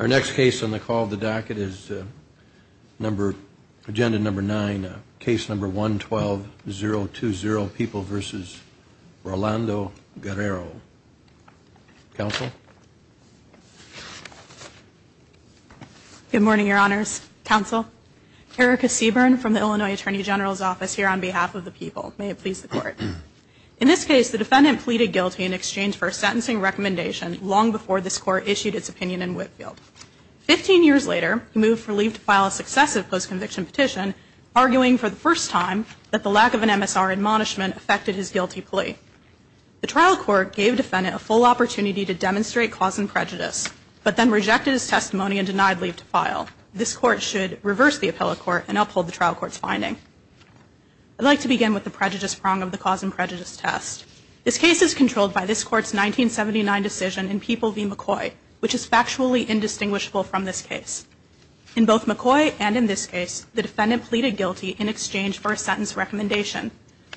Our next case on the call of the docket is number, agenda number nine, case number 112-020, People v. Rolando Guerrero. Counsel? Good morning, Your Honors. Counsel, Erica Seaburn from the Illinois Attorney General's Office here on behalf of the People. May it please the Court. In this case, the defendant pleaded guilty in exchange for a sentencing recommendation long before this Court issued its opinion in Whitfield. Fifteen years later, he moved for leave to file a successive post-conviction petition, arguing for the first time that the lack of an MSR admonishment affected his guilty plea. The trial court gave the defendant a full opportunity to demonstrate cause and prejudice, but then rejected his testimony and denied leave to file. This Court should reverse the appellate court and uphold the trial court's finding. I'd like to begin with the prejudice prong of the cause and prejudice test. This case is controlled by this Court's 1979 decision in People v. McCoy, which is factually indistinguishable from this case. In both McCoy and in this case, the defendant pleaded guilty in exchange for a sentence recommendation.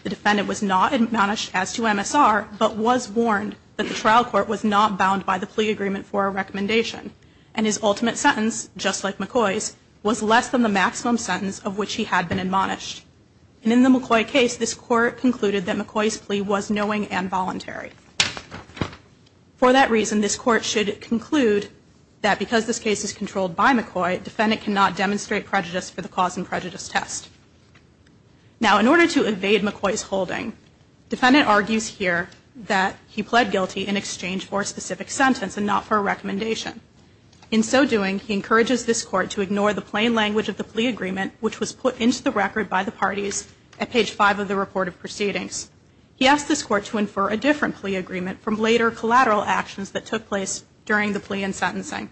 The defendant was not admonished as to MSR, but was warned that the trial court was not bound by the plea agreement for a recommendation, and his ultimate sentence, just like McCoy's, was less than the maximum sentence of which he had been admonished. And in the McCoy case, this Court concluded that McCoy's plea was knowing and voluntary. For that reason, this Court should conclude that because this case is controlled by McCoy, the defendant cannot demonstrate prejudice for the cause and prejudice test. Now, in order to evade McCoy's holding, the defendant argues here that he pled guilty in exchange for a specific sentence and not for a recommendation. In so doing, he encourages this Court to ignore the plain language of the plea agreement, which was put into the record by the parties at page 5 of the report of proceedings. He asked this Court to infer a different plea agreement from later collateral actions that took place during the plea and sentencing.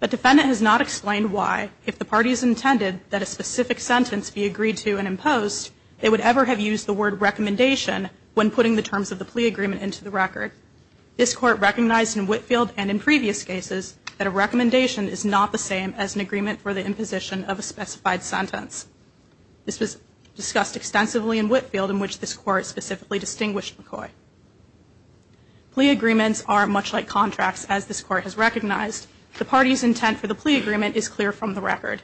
The defendant has not explained why, if the parties intended that a specific sentence be agreed to and imposed, they would ever have used the word recommendation when putting the terms of the plea agreement into the record. This Court recognized in Whitefield and in previous cases that a recommendation is not the same as an agreement for the imposition of a specified sentence. This was discussed extensively in Whitefield, in which this Court specifically distinguished McCoy. Plea agreements are much like contracts, as this Court has recognized. The parties' intent for the plea agreement is clear from the record.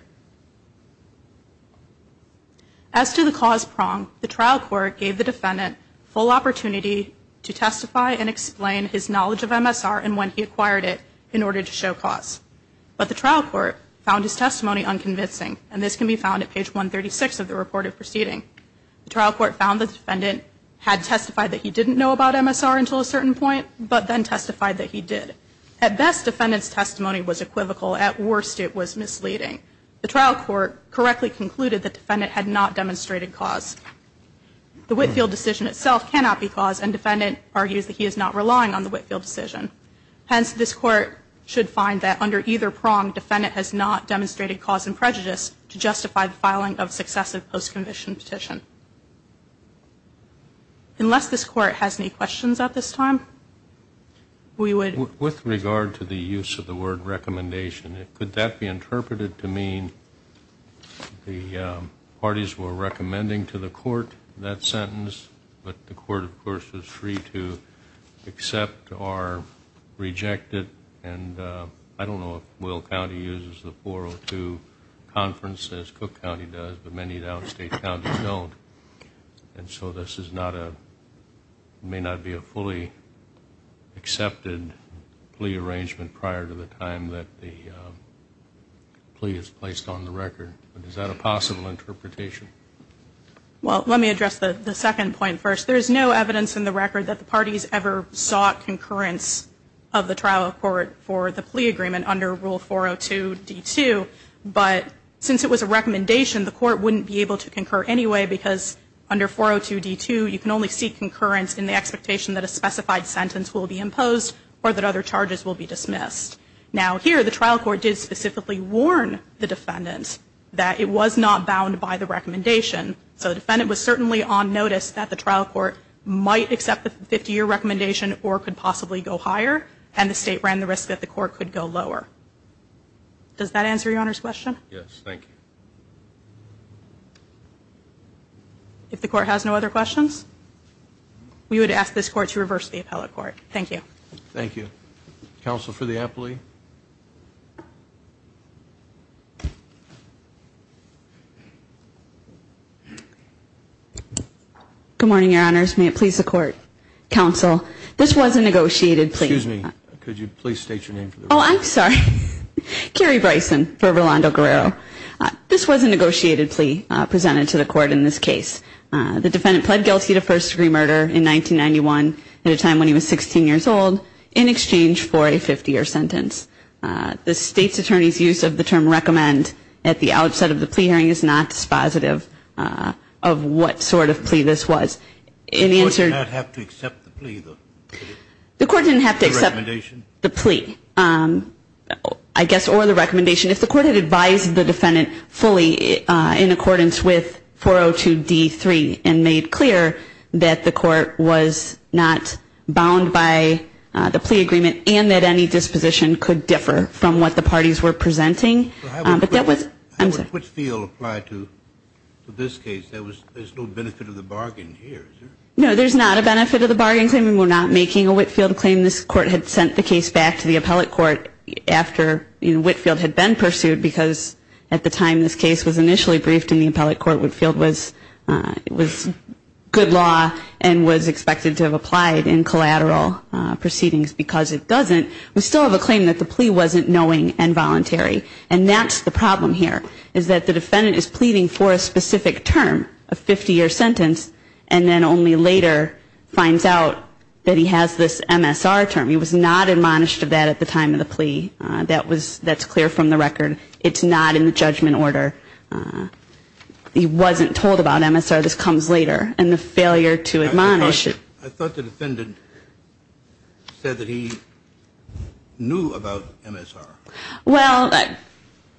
As to the cause prong, the trial court gave the defendant full opportunity to testify and explain his knowledge of MSR and when he acquired it in order to show cause. But the trial court found his testimony unconvincing, and this can be found at page 136 of the report of proceedings. The trial court found the defendant had testified that he didn't know about MSR until a certain point, but then testified that he did. At best, the defendant's testimony was equivocal. At worst, it was misleading. The trial court correctly concluded that the defendant had not demonstrated cause. The Whitefield decision itself cannot be cause, and the defendant argues that he is not relying on the Whitefield decision. Hence, this Court should find that under either prong, the defendant has not demonstrated cause and prejudice to justify the filing of a successive post-conviction petition. Unless this Court has any questions at this time, we would... With regard to the use of the word recommendation, could that be interpreted to mean the parties were recommending to the Court that sentence, but the Court, of course, is free to accept or reject it? And I don't know if Will County uses the 402 conference as Cook County does, but many of the out-of-state counties don't. And so this is not a...may not be a fully accepted plea arrangement prior to the time that the plea is placed on the record. Is that a possible interpretation? Well, let me address the second point first. There is no evidence in the record that the parties ever sought concurrence of the trial court for the plea agreement under Rule 402 D.2. But since it was a recommendation, the Court wouldn't be able to concur anyway, because under 402 D.2, you can only seek concurrence in the expectation that a specified sentence will be imposed or that other charges will be dismissed. Now, here, the trial court did specifically warn the defendant that it was not bound by the recommendation. So the defendant was certainly on notice that the trial court might accept the 50-year recommendation or could possibly go higher, and the State ran the risk that the Court could go lower. Does that answer Your Honor's question? Yes, thank you. If the Court has no other questions, we would ask this Court to reverse the appellate court. Thank you. Thank you. Counsel for the appellate. Good morning, Your Honors. May it please the Court. Counsel, this was a negotiated plea. Excuse me. Could you please state your name for the record? Oh, I'm sorry. Carrie Bryson for Rolando Guerrero. This was a negotiated plea presented to the Court in this case. The defendant pled guilty to first-degree murder in 1991 at a time when he was 16 years old in exchange for a 50-year sentence. The State's attorney's use of the term recommend at the outset of the plea hearing is not dispositive of what sort of plea this was. The Court did not have to accept the plea, though? The Court didn't have to accept the plea, I guess, or the recommendation. If the Court had advised the defendant fully in accordance with 402D3 and made clear that the Court was not bound by the plea agreement and that any disposition could differ from what the parties were presenting. But that was – How would Whitfield apply to this case? There's no benefit of the bargain here, is there? No, there's not a benefit of the bargain. We're not making a Whitfield claim. This Court had sent the case back to the appellate court after Whitfield had been pursued because at the time this case was initially briefed in the appellate court, Whitfield was good law and was expected to have applied in collateral proceedings. Because it doesn't, we still have a claim that the plea wasn't knowing and voluntary. And that's the problem here, is that the defendant is pleading for a specific term, a 50-year sentence, and then only later finds out that he has this MSR term. He was not admonished of that at the time of the plea. That's clear from the record. It's not in the judgment order. He wasn't told about MSR. This comes later. And the failure to admonish. I thought the defendant said that he knew about MSR. Well,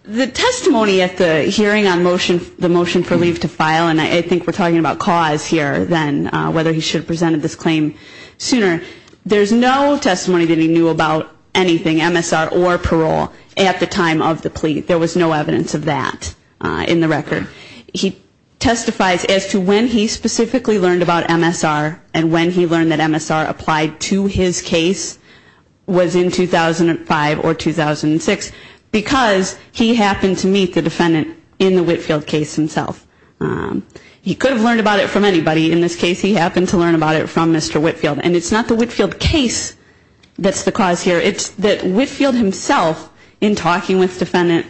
the testimony at the hearing on the motion for leave to file, and I think we're talking about cause here then, whether he should have presented this claim sooner, there's no testimony that he knew about anything MSR or parole at the time of the plea. There was no evidence of that in the record. He testifies as to when he specifically learned about MSR and when he learned that MSR applied to his case was in 2005 or 2006, because he happened to meet the defendant in the Whitfield case himself. He could have learned about it from anybody. In this case, he happened to learn about it from Mr. Whitfield. And it's not the Whitfield case that's the cause here. It's that Whitfield himself, in talking with Defendant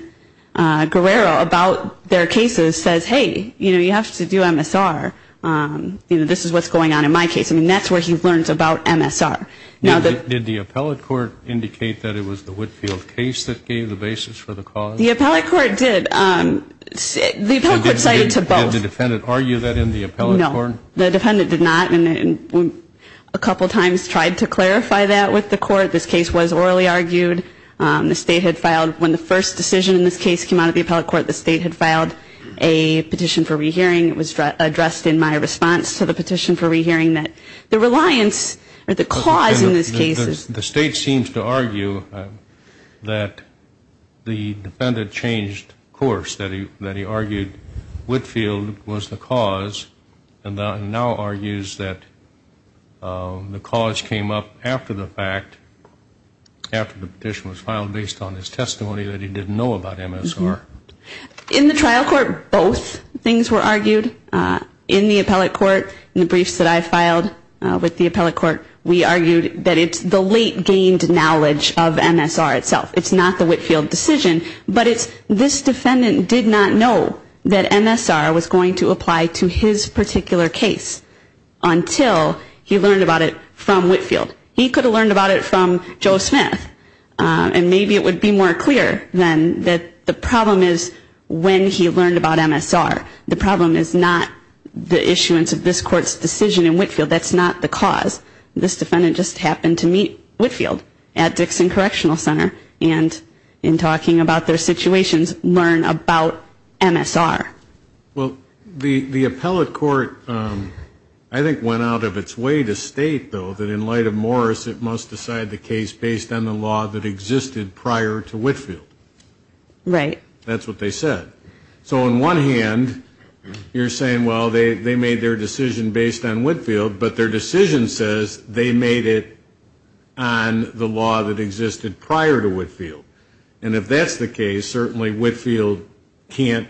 Guerrero about their cases, says, hey, you know, you have to do MSR. You know, this is what's going on in my case. I mean, that's where he learns about MSR. Did the appellate court indicate that it was the Whitfield case that gave the basis for the cause? The appellate court did. The appellate court cited to both. Did the defendant argue that in the appellate court? No. The defendant did not. And a couple times tried to clarify that with the court. This case was orally argued. The State had filed, when the first decision in this case came out of the appellate court, the State had filed a petition for rehearing. It was addressed in my response to the petition for rehearing that the reliance or the cause in this case is. The State seems to argue that the defendant changed course, that he argued Whitfield was the cause, and now argues that the cause came up after the fact, after the petition was filed, based on his testimony that he didn't know about MSR. In the trial court, both things were argued. In the appellate court, in the briefs that I filed with the appellate court, we argued that it's the late gained knowledge of MSR itself. It's not the Whitfield decision. But it's this defendant did not know that MSR was going to apply to his particular case until he learned about it from Whitfield. He could have learned about it from Joe Smith, and maybe it would be more clear then that the problem is when he learned about MSR. The problem is not the issuance of this court's decision in Whitfield. That's not the cause. And in talking about their situations, learn about MSR. Well, the appellate court, I think, went out of its way to state, though, that in light of Morris, it must decide the case based on the law that existed prior to Whitfield. Right. That's what they said. So on one hand, you're saying, well, they made their decision based on Whitfield, but their decision says they made it on the law that existed prior to Whitfield. And if that's the case, certainly Whitfield can't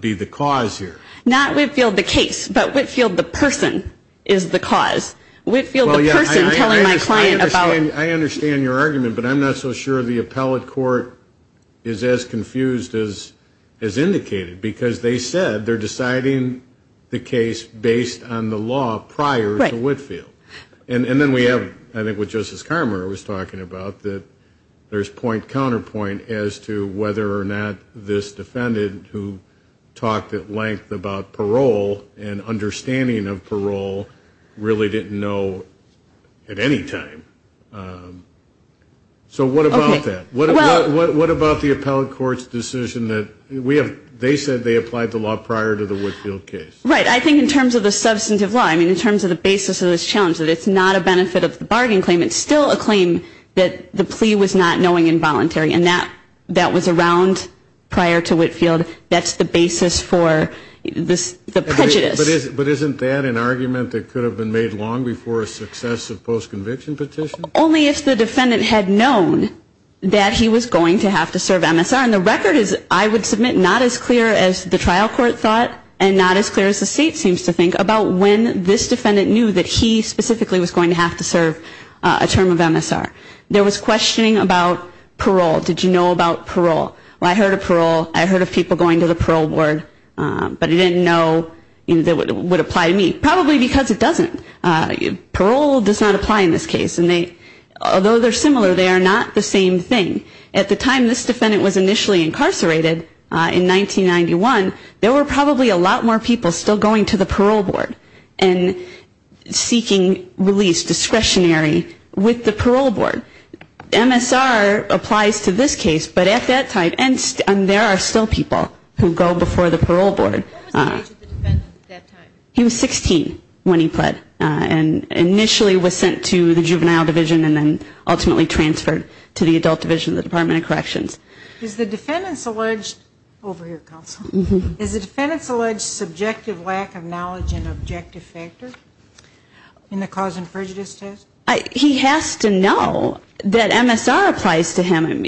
be the cause here. Not Whitfield the case, but Whitfield the person is the cause. Whitfield the person telling my client about. I understand your argument, but I'm not so sure the appellate court is as confused as indicated, because they said they're deciding the case based on the law prior to Whitfield. Right. And then we have, I think, what Justice Carmer was talking about, that there's point-counterpoint as to whether or not this defendant, who talked at length about parole and understanding of parole, really didn't know at any time. So what about that? Okay. What about the appellate court's decision that they said they applied the law prior to the Whitfield case? Right. I think in terms of the substantive law, I mean in terms of the basis of this challenge, that it's not a benefit of the bargain claim. It's still a claim that the plea was not knowing involuntary, and that was around prior to Whitfield. That's the basis for the prejudice. But isn't that an argument that could have been made long before a successive post-conviction petition? Only if the defendant had known that he was going to have to serve MSR. And the record is, I would submit, not as clear as the trial court thought and not as clear as the state seems to think about when this defendant knew that he specifically was going to have to serve a term of MSR. There was questioning about parole. Did you know about parole? Well, I heard of parole. I heard of people going to the parole board, but I didn't know that it would apply to me. Probably because it doesn't. Parole does not apply in this case, and although they're similar, they are not the same thing. At the time this defendant was initially incarcerated, in 1991, there were probably a lot more people still going to the parole board and seeking release, discretionary, with the parole board. MSR applies to this case, but at that time, and there are still people who go before the parole board. What was the age of the defendant at that time? He was 16 when he pled, and initially was sent to the juvenile division and then ultimately transferred to the adult division of the Department of Corrections. Is the defendant's alleged subjective lack of knowledge an objective factor in the cause and prejudice test? He has to know that MSR applies to him.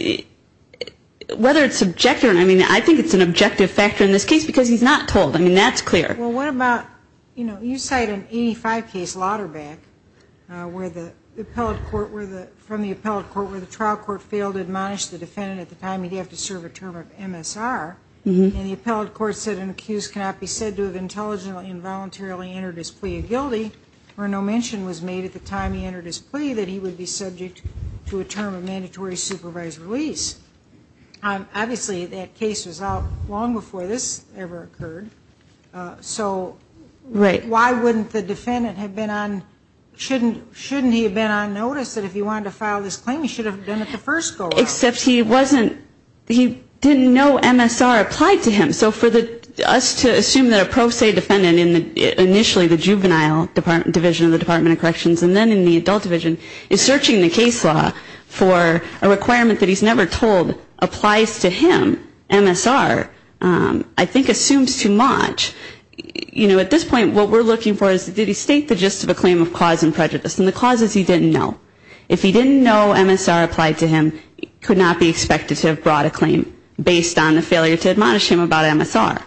Whether it's subjective, I mean, I think it's an objective factor in this case because he's not told. I mean, that's clear. Well, what about, you know, you cite an 85 case, Lauterback, where the appellate court, from the appellate court where the trial court failed to admonish the defendant at the time he'd have to serve a term of MSR, and the appellate court said an accused cannot be said to have intelligently and voluntarily entered his plea of guilty or no mention was made at the time he entered his plea that he would be subject to a term of mandatory supervised release. Obviously, that case was out long before this ever occurred. So why wouldn't the defendant have been on, shouldn't he have been on notice that if he wanted to file this claim, he should have been at the first go around? Except he wasn't, he didn't know MSR applied to him. So for us to assume that a pro se defendant in initially the juvenile division of the Department of Corrections and then in the adult division is searching the case law for a requirement that he's never told applies to him, MSR, I think assumes too much. You know, at this point, what we're looking for is did he state the gist of a claim of cause and prejudice? And the cause is he didn't know. If he didn't know MSR applied to him, he could not be expected to have brought a claim based on the failure to admonish him about MSR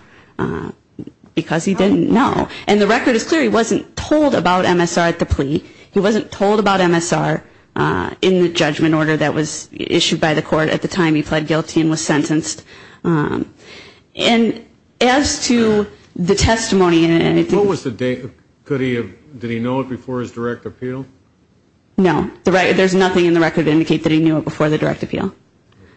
because he didn't know. And the record is clear, he wasn't told about MSR at the plea. He wasn't told about MSR in the judgment order that was issued by the court at the time he pled guilty and was sentenced. And as to the testimony. What was the date? Did he know it before his direct appeal? No. There's nothing in the record to indicate that he knew it before the direct appeal.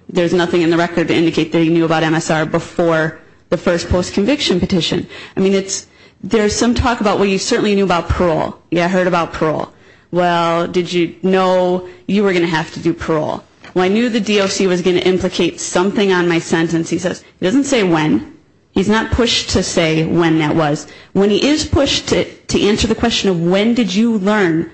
There's nothing in the record to indicate that he knew about MSR before the first post-conviction petition. I mean, it's, there's some talk about, well, you certainly knew about parole. Yeah, I heard about parole. Well, did you know you were going to have to do parole? Well, I knew the DOC was going to implicate something on my sentence. He says, he doesn't say when. He's not pushed to say when that was. When he is pushed to answer the question of when did you learn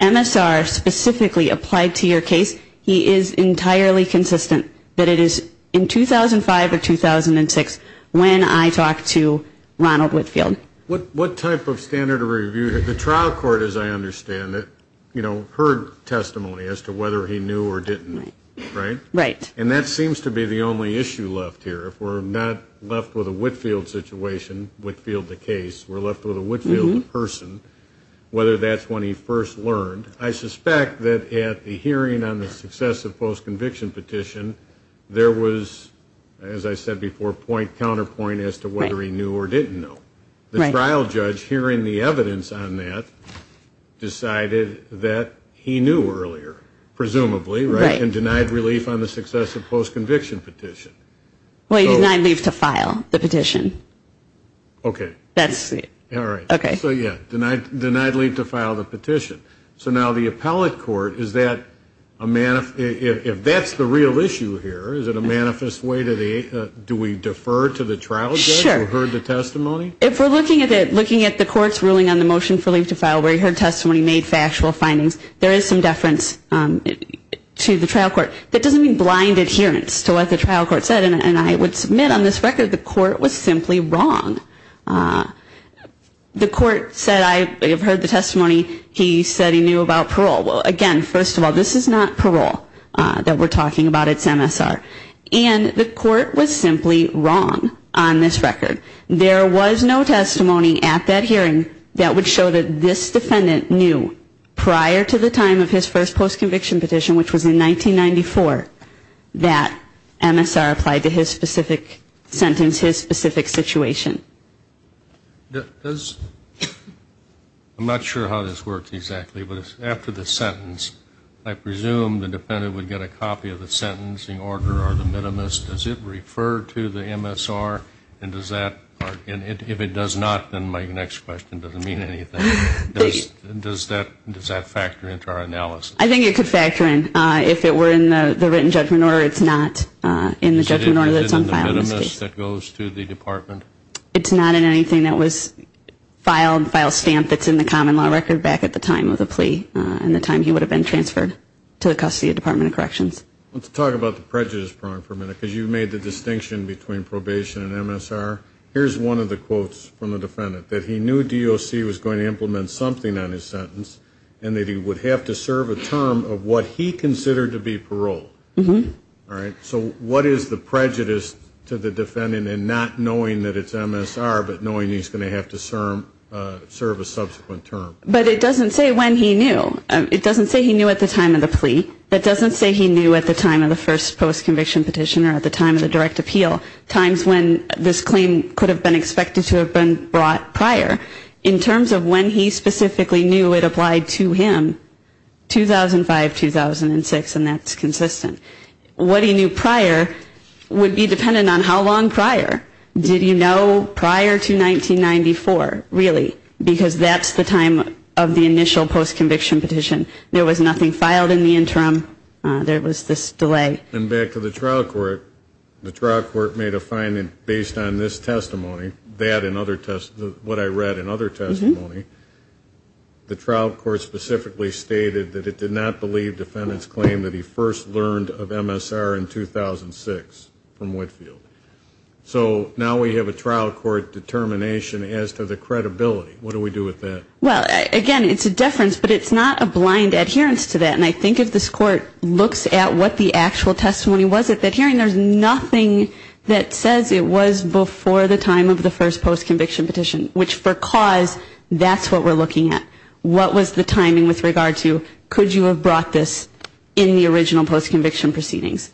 MSR specifically applied to your case, he is entirely consistent that it is in 2005 or 2006 when I talked to Ronald Whitfield. What type of standard of review? The trial court, as I understand it, you know, heard testimony as to whether he knew or didn't know, right? Right. And that seems to be the only issue left here. If we're not left with a Whitfield situation, Whitfield the case, we're left with a Whitfield person, whether that's when he first learned. I suspect that at the hearing on the successive post-conviction petition, there was, as I said before, point-counterpoint as to whether he knew or didn't know. The trial judge, hearing the evidence on that, decided that he knew earlier, presumably, right, and denied relief on the successive post-conviction petition. Well, he denied relief to file the petition. Okay. That's it. All right. Okay. So, yeah, denied relief to file the petition. So now the appellate court, is that a, if that's the real issue here, is it a manifest way to the, do we defer to the trial judge who heard the testimony? Sure. If we're looking at the court's ruling on the motion for relief to file where he heard testimony, made factual findings, there is some deference to the trial court. That doesn't mean blind adherence to what the trial court said, and I would submit on this record the court was simply wrong. The court said, I have heard the testimony, he said he knew about parole. Well, again, first of all, this is not parole that we're talking about. It's MSR. And the court was simply wrong on this record. There was no testimony at that hearing that would show that this defendant knew prior to the time of his first post-conviction petition, which was in 1994, that MSR applied to his specific sentence, his specific situation. Does, I'm not sure how this works exactly, but after the sentence, I presume the defendant would get a copy of the sentencing order or the minimus. Does it refer to the MSR? And does that, if it does not, then my next question doesn't mean anything. Does that factor into our analysis? I think it could factor in. If it were in the written judgment order, it's not in the judgment order that's on file in this case. So it isn't in the minimus that goes to the department? It's not in anything that was filed, filed stamp that's in the common law record back at the time of the plea, and the time he would have been transferred to the custody of the Department of Corrections. Let's talk about the prejudice prong for a minute, because you made the distinction between probation and MSR. Here's one of the quotes from the defendant, that he knew DOC was going to implement something on his sentence, and that he would have to serve a term of what he considered to be parole. So what is the prejudice to the defendant in not knowing that it's MSR, but knowing he's going to have to serve a subsequent term? But it doesn't say when he knew. It doesn't say he knew at the time of the plea. It doesn't say he knew at the time of the first post-conviction petition or at the time of the direct appeal, times when this claim could have been expected to have been brought prior. In terms of when he specifically knew it applied to him, 2005, 2006, and that's consistent. What he knew prior would be dependent on how long prior. Did he know prior to 1994, really? Because that's the time of the initial post-conviction petition. There was nothing filed in the interim. There was this delay. And back to the trial court, the trial court made a finding based on this testimony, that and other testimonies, what I read in other testimony, the trial court specifically stated that it did not believe defendant's claim that he first learned of MSR in 2006 from Whitefield. So now we have a trial court determination as to the credibility. What do we do with that? Well, again, it's a deference, but it's not a blind adherence to that. And I think if this court looks at what the actual testimony was at that hearing, there's nothing that says it was before the time of the first post-conviction petition, which for cause, that's what we're looking at. What was the timing with regard to could you have brought this in the original post-conviction proceedings?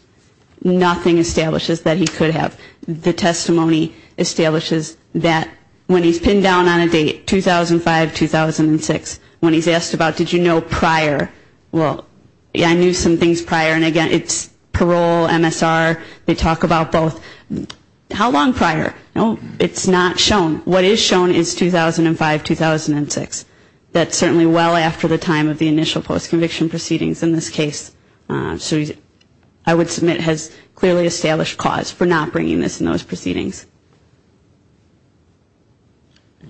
Nothing establishes that he could have. The testimony establishes that when he's pinned down on a date, 2005, 2006, when he's asked about did you know prior, well, yeah, I knew some things prior. And again, it's parole, MSR, they talk about both. How long prior? No, it's not shown. What is shown is 2005, 2006. That's certainly well after the time of the initial post-conviction proceedings in this case. So I would submit has clearly established cause for not bringing this in those proceedings.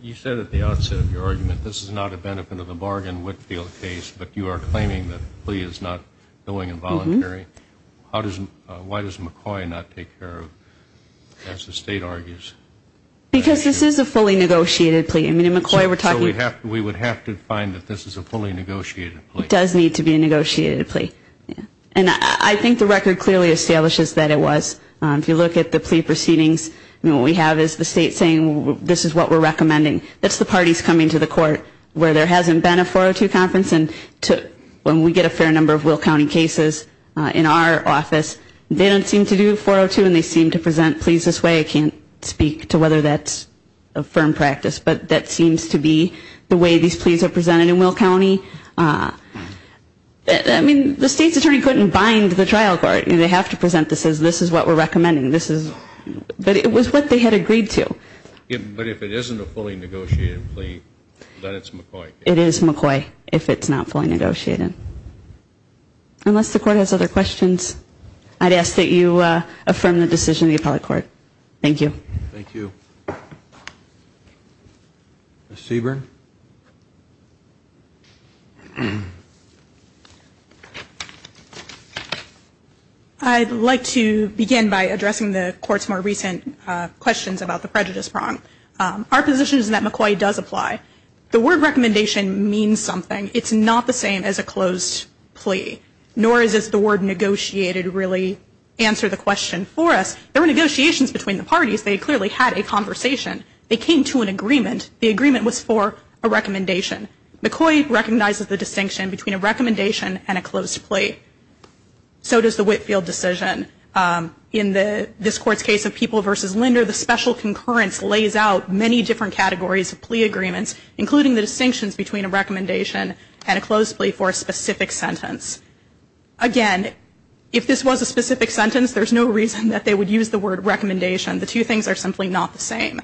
You said at the outset of your argument this is not a benefit of the bargain Whitfield case, but you are claiming that the plea is not going involuntary. Why does McCoy not take care of, as the State argues? Because this is a fully negotiated plea. I mean, in McCoy we're talking. So we would have to find that this is a fully negotiated plea. It does need to be a negotiated plea. And I think the record clearly establishes that it was. If you look at the plea proceedings, what we have is the State saying this is what we're recommending. That's the parties coming to the court where there hasn't been a 402 conference, and when we get a fair number of Will County cases in our office, they don't seem to do 402 and they seem to present pleas this way. I can't speak to whether that's a firm practice, but that seems to be the way these pleas are presented in Will County. I mean, the State's attorney couldn't bind the trial court. They have to present this as this is what we're recommending. But it was what they had agreed to. But if it isn't a fully negotiated plea, then it's McCoy. It is McCoy if it's not fully negotiated. Unless the court has other questions, I'd ask that you affirm the decision of the appellate court. Thank you. Thank you. Ms. Seaborn? I'd like to begin by addressing the court's more recent questions about the prejudice prong. Our position is that McCoy does apply. The word recommendation means something. It's not the same as a closed plea, nor does the word negotiated really answer the question for us. There were negotiations between the parties. They clearly had a conversation. They came to an agreement. The agreement was for a recommendation. McCoy recognizes the distinction between a recommendation and a closed plea. So does the Whitfield decision. In this court's case of People v. Linder, the special concurrence lays out many different categories of plea agreements, including the distinctions between a recommendation and a closed plea for a specific sentence. Again, if this was a specific sentence, there's no reason that they would use the word recommendation. The two things are simply not the same.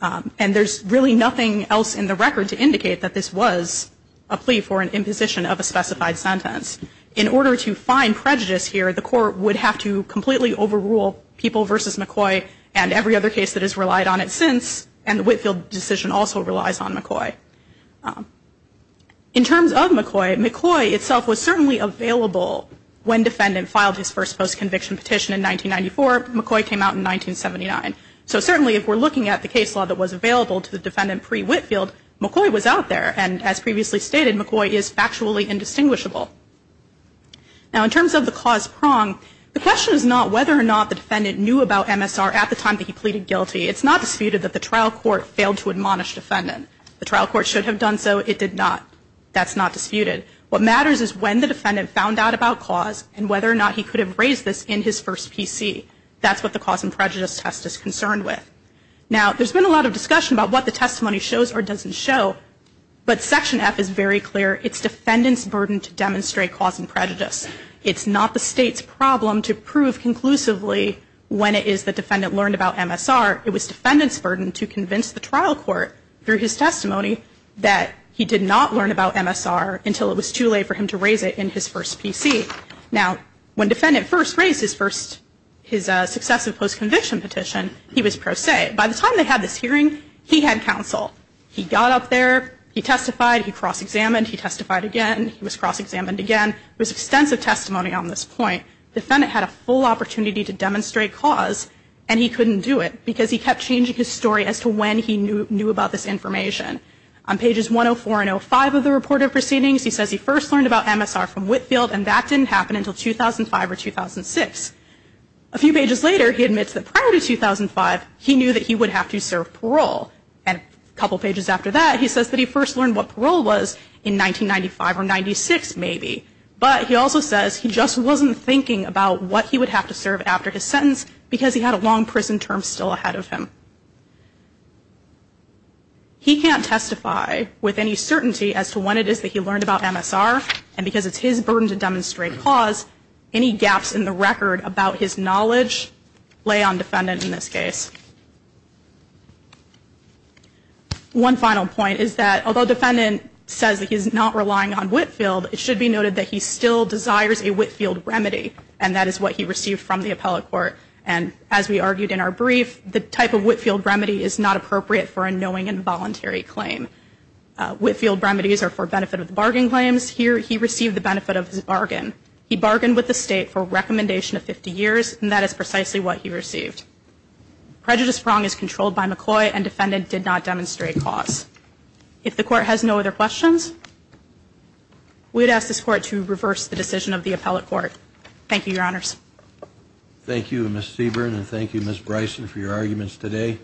And there's really nothing else in the record to indicate that this was a plea for an imposition of a specified sentence. In order to find prejudice here, the court would have to completely overrule People v. McCoy and every other case that has relied on it since, and the Whitfield decision also relies on McCoy. In terms of McCoy, McCoy itself was certainly available when defendant filed his first postconviction petition in 1994. McCoy came out in 1979. So certainly if we're looking at the case law that was available to the defendant pre-Whitfield, McCoy was out there. And as previously stated, McCoy is factually indistinguishable. Now in terms of the cause prong, the question is not whether or not the defendant knew about MSR at the time that he pleaded guilty. It's not disputed that the trial court failed to admonish defendant. The trial court should have done so. It did not. That's not disputed. What matters is when the defendant found out about cause and whether or not he could have raised this in his first PC. That's what the cause and prejudice test is concerned with. Now there's been a lot of discussion about what the testimony shows or doesn't show, but Section F is very clear. It's defendant's burden to demonstrate cause and prejudice. It's not the state's problem to prove conclusively when it is the defendant learned about MSR. It was defendant's burden to convince the trial court through his testimony that he did not learn about MSR until it was too late for him to raise it in his first PC. Now when defendant first raised his first, his successive post-conviction petition, he was pro se. By the time they had this hearing, he had counsel. He got up there. He testified. He cross-examined. He testified again. He was cross-examined again. It was extensive testimony on this point. Defendant had a full opportunity to demonstrate cause, and he couldn't do it because he kept changing his story as to when he knew about this information. On pages 104 and 05 of the report of proceedings, he says he first learned about MSR from Whitfield, and that didn't happen until 2005 or 2006. A few pages later, he admits that prior to 2005, he knew that he would have to serve parole. And a couple pages after that, he says that he first learned what parole was in 1995 or 96, maybe. But he also says he just wasn't thinking about what he would have to serve after his sentence because he had a long prison term still ahead of him. He can't testify with any certainty as to when it is that he learned about MSR, and because it's his burden to demonstrate cause, any gaps in the record about his knowledge lay on defendant in this case. One final point is that although defendant says that he's not relying on Whitfield, it should be noted that he still desires a Whitfield remedy, and that is what he received from the appellate court. And as we argued in our brief, the type of Whitfield remedy is not appropriate for a knowing and voluntary claim. Whitfield remedies are for benefit of the bargain claims. Here, he received the benefit of his bargain. He bargained with the state for a recommendation of 50 years, and that is precisely what he received. Prejudice prong is controlled by McCoy, and defendant did not demonstrate cause. If the court has no other questions, we'd ask this court to reverse the decision of the appellate court. Thank you, Your Honors. Thank you, Ms. Seaborn, and thank you, Ms. Bryson, for your arguments today.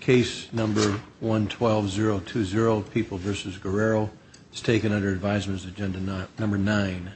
Case number 112-020, People v. Guerrero, is taken under advisement as agenda number 9.